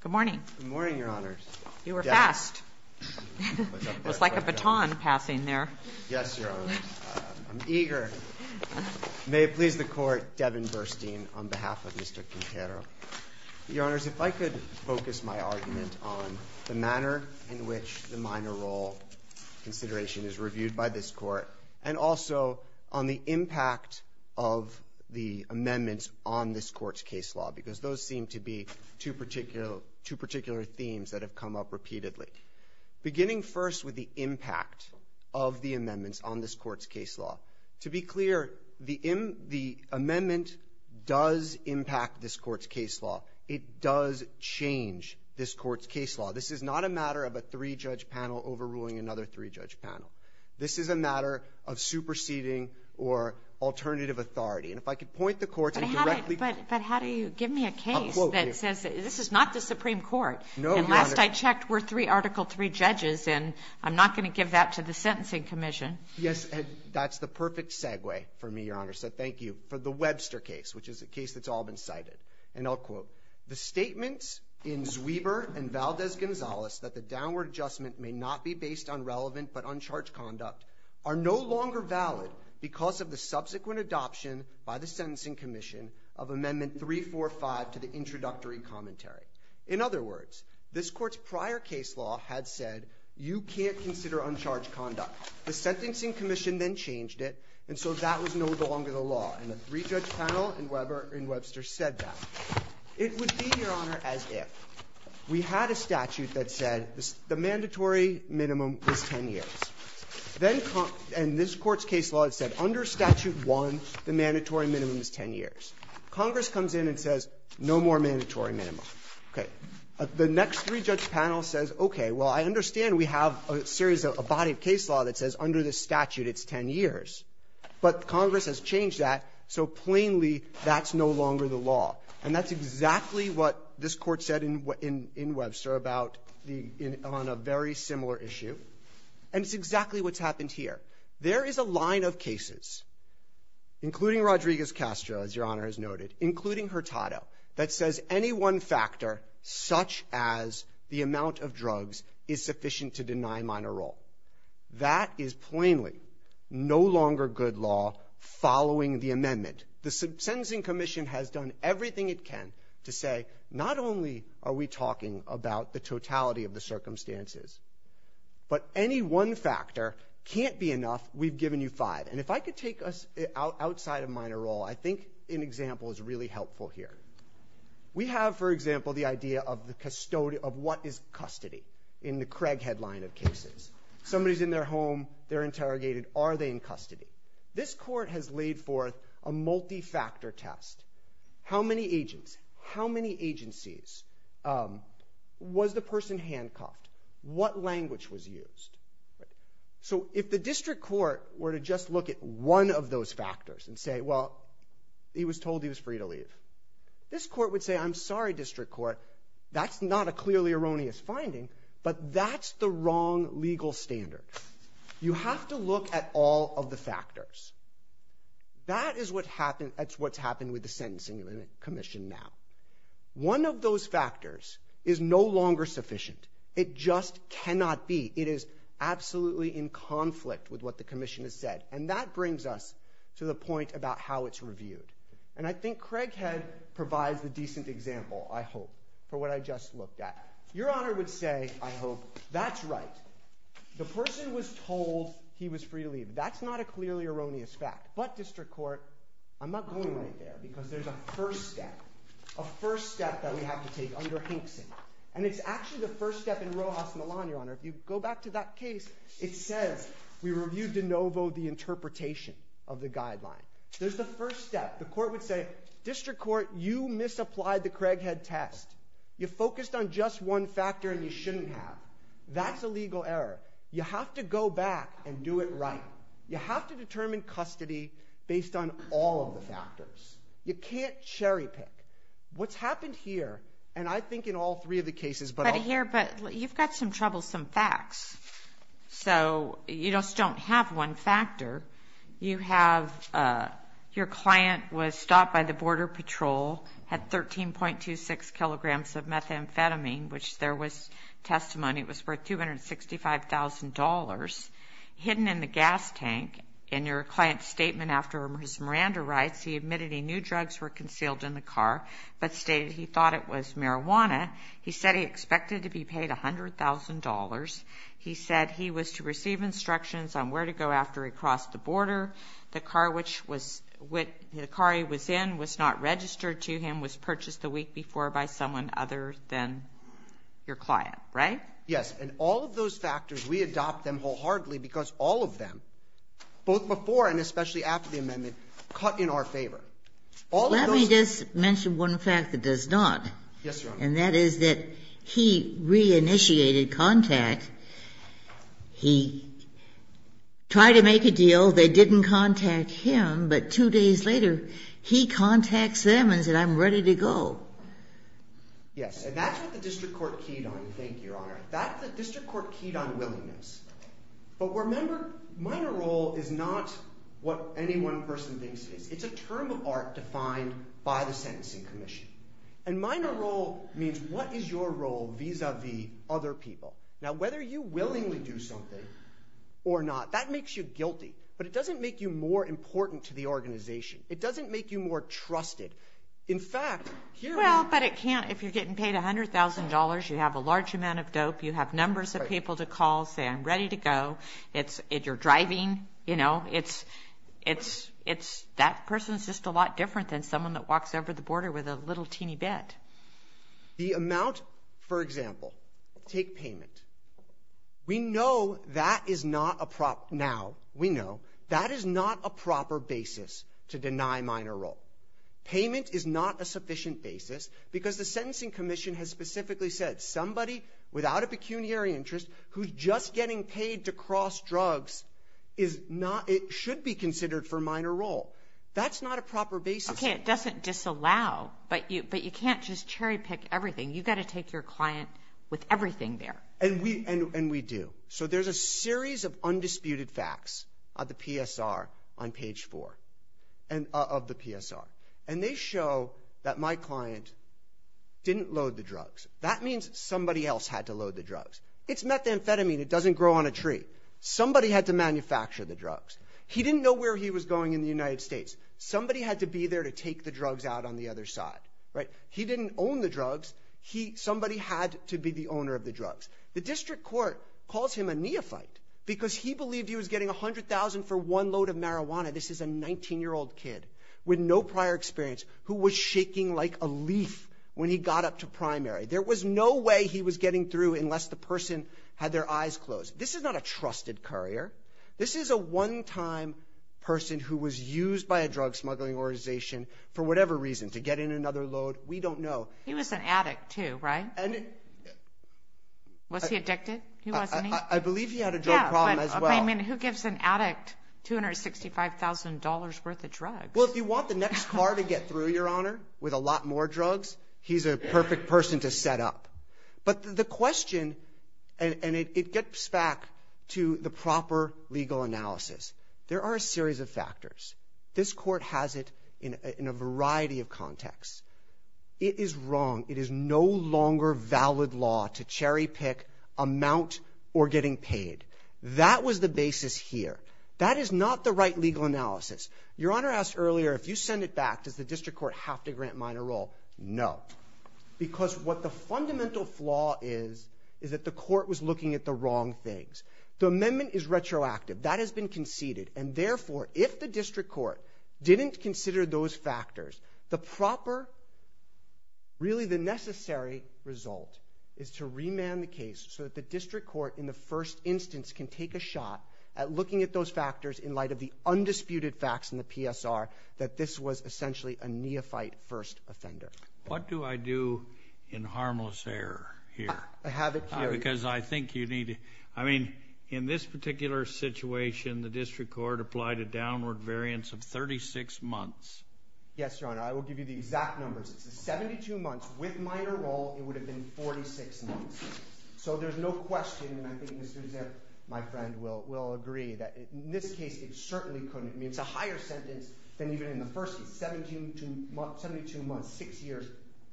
Good morning. Good morning, Your Honors. You were fast. It was like a baton passing there. Yes, Your Honor. I'm eager. May it please the Court, Devin Burstein, on behalf of Mr. Quintero. Your Honors, if I could focus my argument on the manner in which the minor role consideration is given to two particular themes that have come up repeatedly, beginning first with the impact of the amendments on this Court's case law. To be clear, the amendment does impact this Court's case law. It does change this Court's case law. This is not a matter of a three-judge panel overruling another three-judge panel. This is a matter of superseding or alternative authority. And if I could point the Court to directly – This is not the Supreme Court. No, Your Honor. And last I checked, we're three Article III judges, and I'm not going to give that to the Sentencing Commission. Yes, and that's the perfect segue for me, Your Honor. So thank you for the Webster case, which is a case that's all been cited. And I'll quote, In other words, this Court's prior case law had said you can't consider uncharged conduct. The Sentencing Commission then changed it, and so that was no longer the law. And the three-judge panel in Webster said that. It would be, Your Honor, as if we had a statute that said the mandatory minimum was 10 years. Then – and this Court's case law had said under Statute 1, the mandatory minimum is 10 years. Congress comes in and says no more mandatory minimum. Okay. The next three-judge panel says, okay, well, I understand we have a series of – a body of case law that says under this statute it's 10 years, but Congress has changed that, so plainly that's no longer the law. And that's exactly what this Court said in Webster about the – on a very similar issue. And it's exactly what's happened here. There is a line of cases, including Rodriguez-Castro, as Your Honor has noted, including Hurtado, that says any one factor such as the amount of drugs is sufficient to deny minor role. That is plainly no longer good law following the amendment. The Sentencing Commission has done everything it can to say not only are we talking about the totality of the circumstances, but any one factor can't be enough. We've given you five. And if I could take us outside of minor role, I think an example is really helpful here. We have, for example, the idea of the – of what is custody in the Craig headline of cases. Somebody's in their home. They're interrogated. Are they in custody? This Court has laid forth a multi-factor test. How many agents? How many agencies? Was the person handcuffed? What language was used? So if the district court were to just look at one of those factors and say, well, he was told he was free to leave, this court would say, I'm sorry, district court, that's not a clearly erroneous finding, but that's the wrong legal standard. You have to look at all of the factors. That is what happened – that's what's happened with the Sentencing Commission now. One of those factors is no longer sufficient. It just cannot be. It is absolutely in conflict with what the Commission has said. And that brings us to the point about how it's reviewed. And I think Craighead provides the decent example, I hope, for what I just looked at. Your Honor would say, I hope, that's right. The person was told he was free to leave. That's not a clearly erroneous fact. But, district court, I'm not going right there because there's a first step – a first step that we have to take under Hinkson. And it's actually the first step in Rojas Milan, Your Honor. If you go back to that case, it says we reviewed de novo the interpretation of the guideline. There's the first step. The court would say, district court, you misapplied the Craighead test. You focused on just one factor and you shouldn't have. That's a legal error. You have to go back and do it right. You have to determine custody based on all of the factors. You can't cherry-pick. What's happened here, and I think in all three of the cases – You've got some troublesome facts. So, you just don't have one factor. You have – your client was stopped by the border patrol, had 13.26 kilograms of methamphetamine, which there was testimony it was worth $265,000, hidden in the gas tank. In your client's statement after his Miranda rights, he admitted he knew drugs were concealed in the car, but stated he thought it was marijuana. He said he expected to be paid $100,000. He said he was to receive instructions on where to go after he crossed the border. The car which was – the car he was in was not registered to him, was purchased the week before by someone other than your client, right? Yes, and all of those factors, we adopt them wholeheartedly because all of them, both before and especially after the amendment, cut in our favor. All of those – Let me just mention one fact that does not. Yes, Your Honor. And that is that he re-initiated contact. He tried to make a deal. They didn't contact him, but two days later, he contacts them and said, I'm ready to go. Yes, and that's what the district court keyed on, thank you, Your Honor. That's what the district court keyed on, willingness. But remember, minor role is not what any one person thinks it is. It's a term of art defined by the sentencing commission. And minor role means what is your role vis-à-vis other people. Now, whether you willingly do something or not, that makes you guilty, but it doesn't make you more important to the organization. It doesn't make you more trusted. In fact, here we are. Well, but it can't – if you're getting paid $100,000, you have a large amount of dope, you have numbers of people to call, say, I'm ready to go. It's – if you're driving, you know, it's – that person's just a lot different than someone that walks over the border with a little teeny bit. The amount – for example, take payment. We know that is not a – now we know that is not a proper basis to deny minor role. Payment is not a sufficient basis because the sentencing commission has specifically said, somebody without a pecuniary interest who's just getting paid to cross drugs is not – it should be considered for minor role. That's not a proper basis. Okay, it doesn't disallow, but you can't just cherry-pick everything. You've got to take your client with everything there. And we do. So there's a series of undisputed facts of the PSR on page 4 of the PSR. And they show that my client didn't load the drugs. That means somebody else had to load the drugs. It's methamphetamine. It doesn't grow on a tree. Somebody had to manufacture the drugs. He didn't know where he was going in the United States. Somebody had to be there to take the drugs out on the other side, right? He didn't own the drugs. He – somebody had to be the owner of the drugs. The district court calls him a neophyte because he believed he was getting $100,000 for one load of marijuana – this is a 19-year-old kid with no prior experience who was shaking like a leaf when he got up to primary. There was no way he was getting through unless the person had their eyes closed. This is not a trusted courier. This is a one-time person who was used by a drug smuggling organization for whatever reason, to get in another load. We don't know. He was an addict, too, right? Was he addicted? He wasn't, he? I believe he had a drug problem as well. Yeah, but, I mean, who gives an addict $265,000 worth of drugs? Well, if you want the next car to get through, Your Honor, with a lot more drugs, he's a perfect person to set up. But the question – and it gets back to the proper legal analysis. There are a series of factors. This court has it in a variety of contexts. It is wrong. It is no longer valid law to cherry-pick amount or getting paid. That was the basis here. That is not the right legal analysis. Your Honor asked earlier, if you send it back, does the district court have to grant minor role? No. Because what the fundamental flaw is, is that the court was looking at the wrong things. The amendment is retroactive. That has been conceded. And, therefore, if the district court didn't consider those factors, the proper, really the necessary result is to remand the case so that the district court, in the first instance, can take a shot at looking at those factors in light of the undisputed facts in the PSR that this was essentially a neophyte-first offender. What do I do in harmless error here? Have it carried. Because I think you need to – I mean, in this particular situation, the district court applied a downward variance of 36 months. Yes, Your Honor. I will give you the exact numbers. It's 72 months with minor role. It would have been 46 months. So there's no question, and I think Mr. Zipp, my friend, will agree, that in this case it certainly couldn't. I mean, it's a higher sentence than even in the first case. Seventy-two months, six years,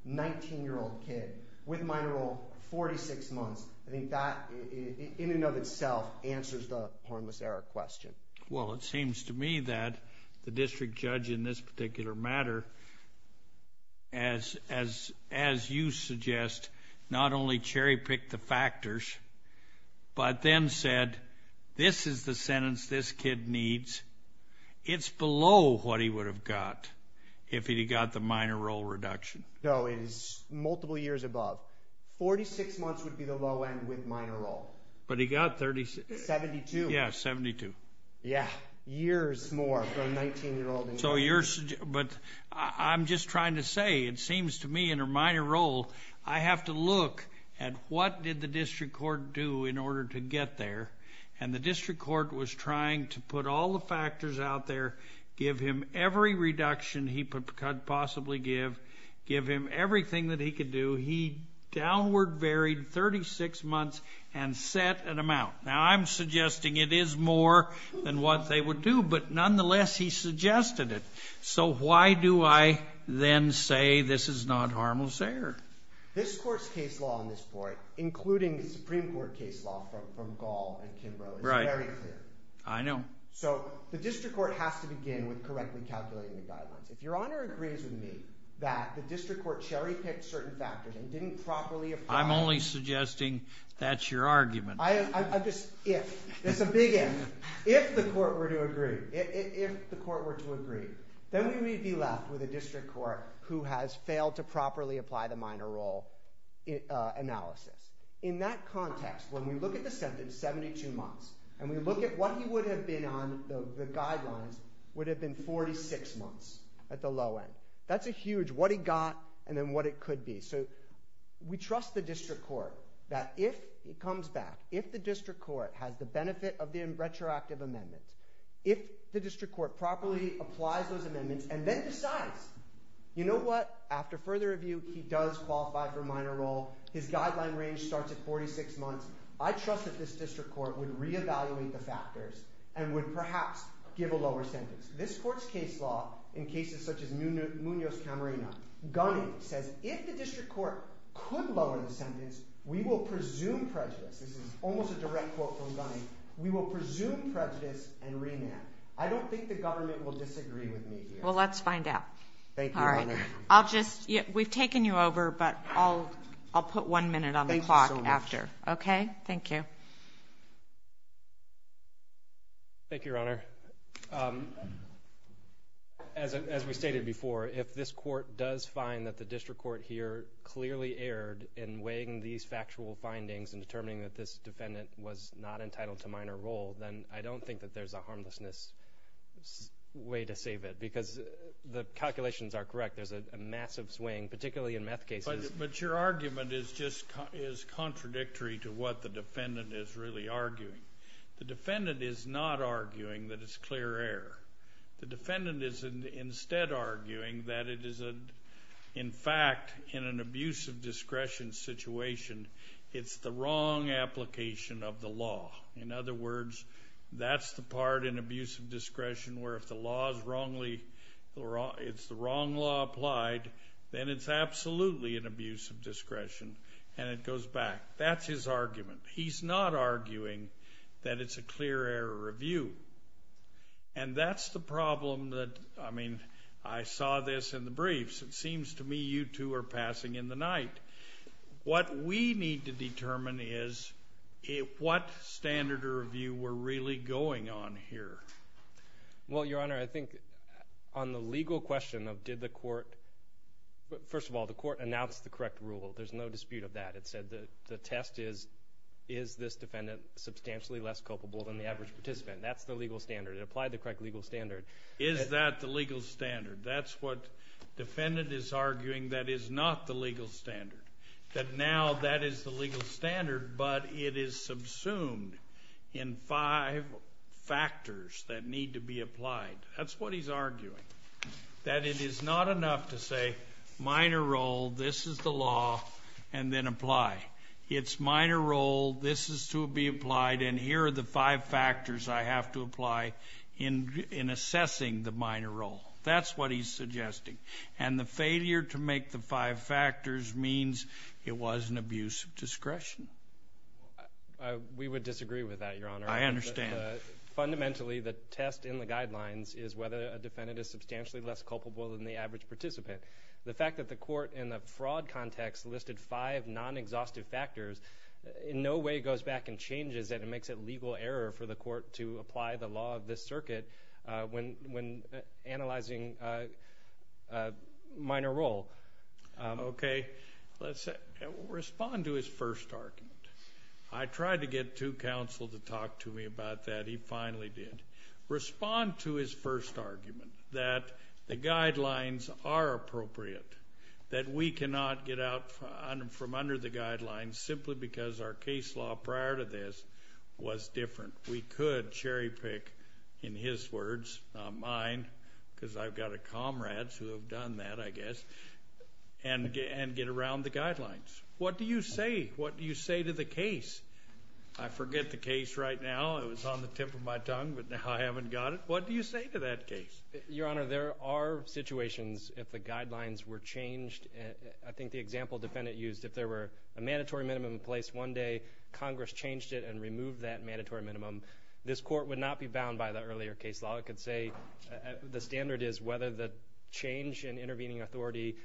19-year-old kid with minor role, 46 months. I think that, in and of itself, answers the harmless error question. Well, it seems to me that the district judge in this particular matter, as you suggest, not only cherry-picked the factors, but then said, this is the sentence this kid needs. It's below what he would have got if he'd got the minor role reduction. No, it is multiple years above. Forty-six months would be the low end with minor role. But he got 36. Seventy-two. Yeah, 72. Yeah, years more from 19-year-old to 19-year-old. But I'm just trying to say, it seems to me in a minor role, I have to look at what did the district court do in order to get there. And the district court was trying to put all the factors out there, give him every reduction he could possibly give, give him everything that he could do. He downward varied 36 months and set an amount. Now, I'm suggesting it is more than what they would do, but nonetheless, he suggested it. So why do I then say this is not harmless error? This court's case law on this point, including the Supreme Court case law from Gall and Kimbrough, is very clear. I know. So the district court has to begin with correctly calculating the guidelines. If Your Honor agrees with me that the district court cherry-picked certain factors and didn't properly apply them. I'm only suggesting that's your argument. I'm just if. That's a big if. If the court were to agree, if the court were to agree, then we would be left with a district court who has failed to properly apply the minor role analysis. In that context, when we look at the sentence, 72 months, and we look at what he would have been on the guidelines, would have been 46 months at the low end. That's a huge what he got and then what it could be. So we trust the district court that if he comes back, if the district court has the benefit of the retroactive amendments, if the district court properly applies those amendments and then decides, you know what, after further review, he does qualify for minor role. His guideline range starts at 46 months. I trust that this district court would reevaluate the factors and would perhaps give a lower sentence. This court's case law in cases such as Munoz-Camarena, Gunning, says if the district court could lower the sentence, we will presume prejudice. This is almost a direct quote from Gunning. We will presume prejudice and remand. I don't think the government will disagree with me here. Well, let's find out. Thank you, Your Honor. We've taken you over, but I'll put one minute on the clock after. Okay? Thank you. Thank you, Your Honor. As we stated before, if this court does find that the district court here clearly erred in weighing these factual findings and determining that this defendant was not entitled to minor role, then I don't think that there's a harmlessness way to save it because the calculations are correct. There's a massive swing, particularly in meth cases. But your argument is just contradictory to what the defendant is really arguing. The defendant is not arguing that it's clear error. The defendant is instead arguing that it is, in fact, in an abuse of discretion situation, it's the wrong application of the law. In other words, that's the part in abuse of discretion where if the law is wrongly or it's the wrong law applied, then it's absolutely an abuse of discretion and it goes back. That's his argument. He's not arguing that it's a clear error review. And that's the problem that, I mean, I saw this in the briefs. It seems to me you two are passing in the night. What we need to determine is what standard of review we're really going on here. Well, Your Honor, I think on the legal question of did the court, first of all, the court announced the correct rule. There's no dispute of that. It said the test is, is this defendant substantially less culpable than the average participant? That's the legal standard. It applied the correct legal standard. Is that the legal standard? That's what defendant is arguing that is not the legal standard, that now that is the legal standard but it is subsumed in five factors that need to be applied. That's what he's arguing, that it is not enough to say minor role, this is the law, and then apply. It's minor role, this is to be applied, and here are the five factors I have to apply in assessing the minor role. That's what he's suggesting. And the failure to make the five factors means it was an abuse of discretion. We would disagree with that, Your Honor. I understand. Fundamentally, the test in the guidelines is whether a defendant is substantially less culpable than the average participant. The fact that the court in the fraud context listed five non-exhaustive factors in no way goes back and changes that. It makes it legal error for the court to apply the law of this circuit when analyzing minor role. Okay. Respond to his first argument. I tried to get two counsel to talk to me about that. He finally did. Respond to his first argument that the guidelines are appropriate, that we cannot get out from under the guidelines simply because our case law prior to this was different. We could cherry pick, in his words, not mine, because I've got comrades who have done that, I guess, and get around the guidelines. What do you say? What do you say to the case? I forget the case right now. It was on the tip of my tongue, but now I haven't got it. What do you say to that case? Your Honor, there are situations if the guidelines were changed. I think the example defendant used, if there were a mandatory minimum in place one day, Congress changed it and removed that mandatory minimum, this court would not be bound by the earlier case law. I could say the standard is whether the change in intervening authority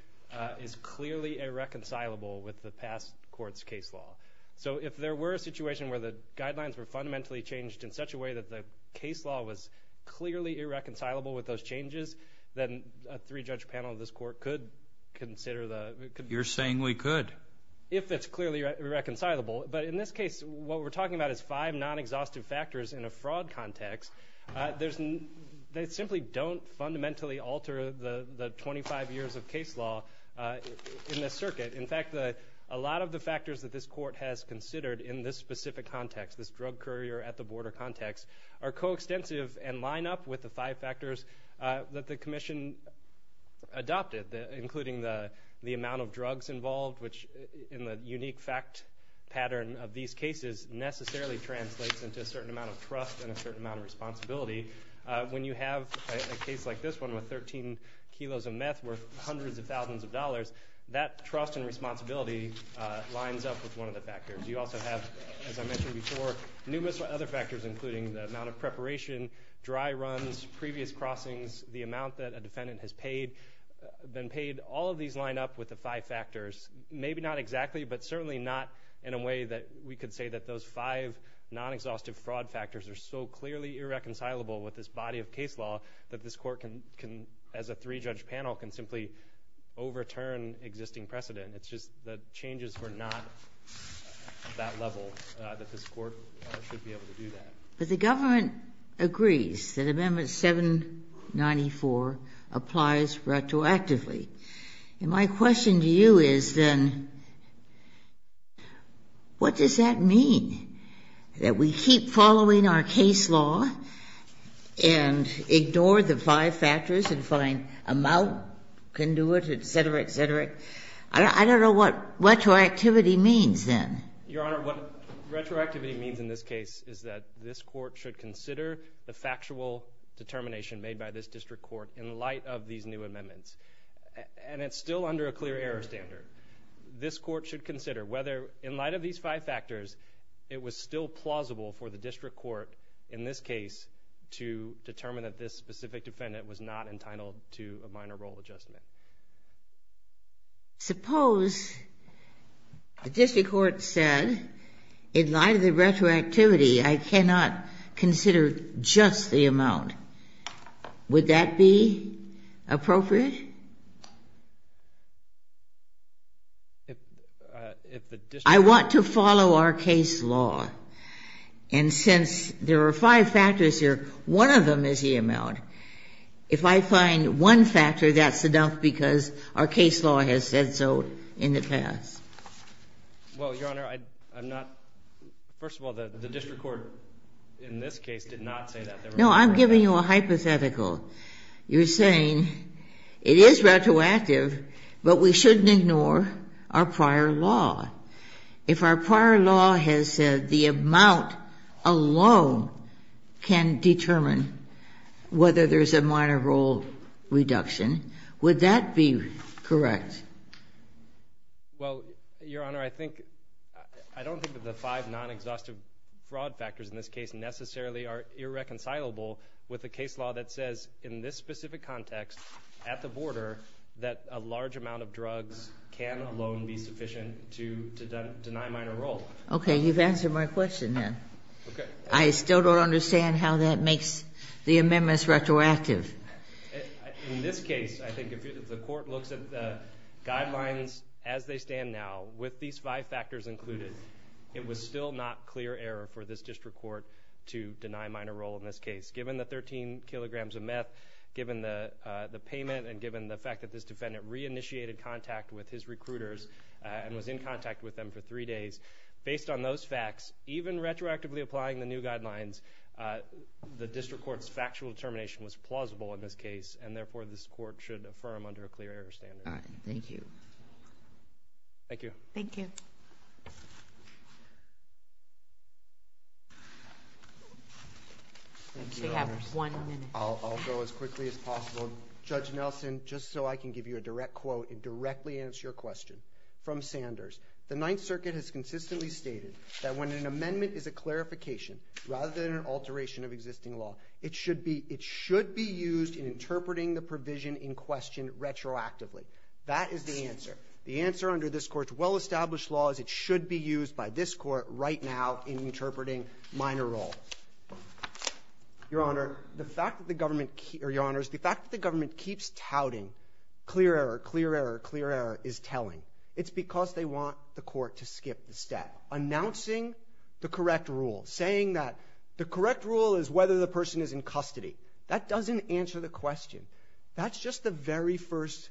is clearly irreconcilable with the past court's case law. So if there were a situation where the guidelines were fundamentally changed in such a way that the case law was clearly irreconcilable with those changes, then a three-judge panel of this court could consider the You're saying we could. If it's clearly irreconcilable. But in this case, what we're talking about is five non-exhaustive factors in a fraud context. They simply don't fundamentally alter the 25 years of case law in this circuit. In fact, a lot of the factors that this court has considered in this specific context, this drug courier at the border context, are coextensive and line up with the five factors that the commission adopted, including the amount of drugs involved, which in the unique fact pattern of these cases necessarily translates into a certain amount of trust and a certain amount of responsibility. When you have a case like this one with 13 kilos of meth worth hundreds of thousands of dollars, that trust and responsibility lines up with one of the factors. You also have, as I mentioned before, numerous other factors, including the amount of preparation, dry runs, previous crossings, the amount that a defendant has been paid. All of these line up with the five factors. Maybe not exactly, but certainly not in a way that we could say that those five non-exhaustive fraud factors are so clearly irreconcilable with this body of case law that this court, as a three-judge panel, can simply overturn existing precedent. It's just the changes were not that level that this court should be able to do that. But the government agrees that Amendment 794 applies retroactively. And my question to you is then what does that mean, that we keep following our case law and ignore the five factors and find amount can do it, et cetera, et cetera? I don't know what retroactivity means then. Your Honor, what retroactivity means in this case is that this court should consider the factual determination made by this district court in light of these new amendments. And it's still under a clear error standard. This court should consider whether, in light of these five factors, it was still plausible for the district court in this case to determine that this specific defendant was not entitled to a minor role adjustment. Suppose the district court said, in light of the retroactivity, I cannot consider just the amount. Would that be appropriate? I want to follow our case law. And since there are five factors here, one of them is the amount. If I find one factor, that's enough because our case law has said so in the past. Well, Your Honor, I'm not – first of all, the district court in this case did not say that. No, I'm giving you a hypothetical. You're saying it is retroactive, but we shouldn't ignore our prior law. If our prior law has said the amount alone can determine whether there's a minor role reduction, would that be correct? Well, Your Honor, I think – I don't think that the five non-exhaustive fraud factors in this case necessarily are irreconcilable with a case law that says in this specific context at the border that a large amount of drugs can alone be sufficient to deny minor role. Okay, you've answered my question then. Okay. I still don't understand how that makes the amendments retroactive. In this case, I think if the court looks at the guidelines as they stand now, with these five factors included, it was still not clear error for this district court to deny minor role in this case. Given the 13 kilograms of meth, given the payment, and given the fact that this defendant reinitiated contact with his recruiters and was in contact with them for three days, based on those facts, even retroactively applying the new guidelines, the district court's factual determination was plausible in this case, and therefore this court should affirm under a clear error standard. All right, thank you. Thank you. Thank you. Okay. We have one minute. I'll go as quickly as possible. Judge Nelson, just so I can give you a direct quote and directly answer your question. From Sanders, the Ninth Circuit has consistently stated that when an amendment is a clarification rather than an alteration of existing law, it should be used in interpreting the provision in question retroactively. That is the answer. The answer under this court's well-established law is it should be used by this court right now in interpreting minor role. Your Honor, the fact that the government keeps touting clear error, clear error, clear error is telling. It's because they want the court to skip the step. Announcing the correct rule, saying that the correct rule is whether the person is in custody, that doesn't answer the question. That's just the very first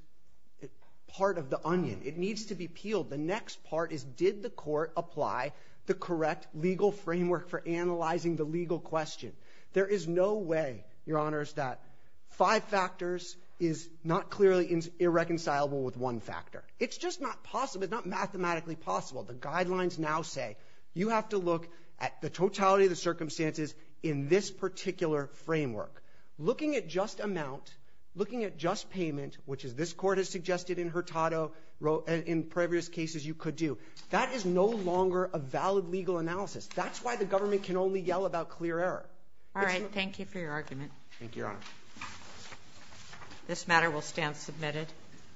part of the onion. It needs to be peeled. The next part is did the court apply the correct legal framework for analyzing the legal question. There is no way, Your Honors, that five factors is not clearly irreconcilable with one factor. It's just not possible. It's not mathematically possible. The guidelines now say you have to look at the totality of the circumstances in this particular framework. Looking at just amount, looking at just payment, which this court has suggested in Hurtado, in previous cases you could do, that is no longer a valid legal analysis. That's why the government can only yell about clear error. All right. Thank you for your argument. Thank you, Your Honor. This matter will stand submitted.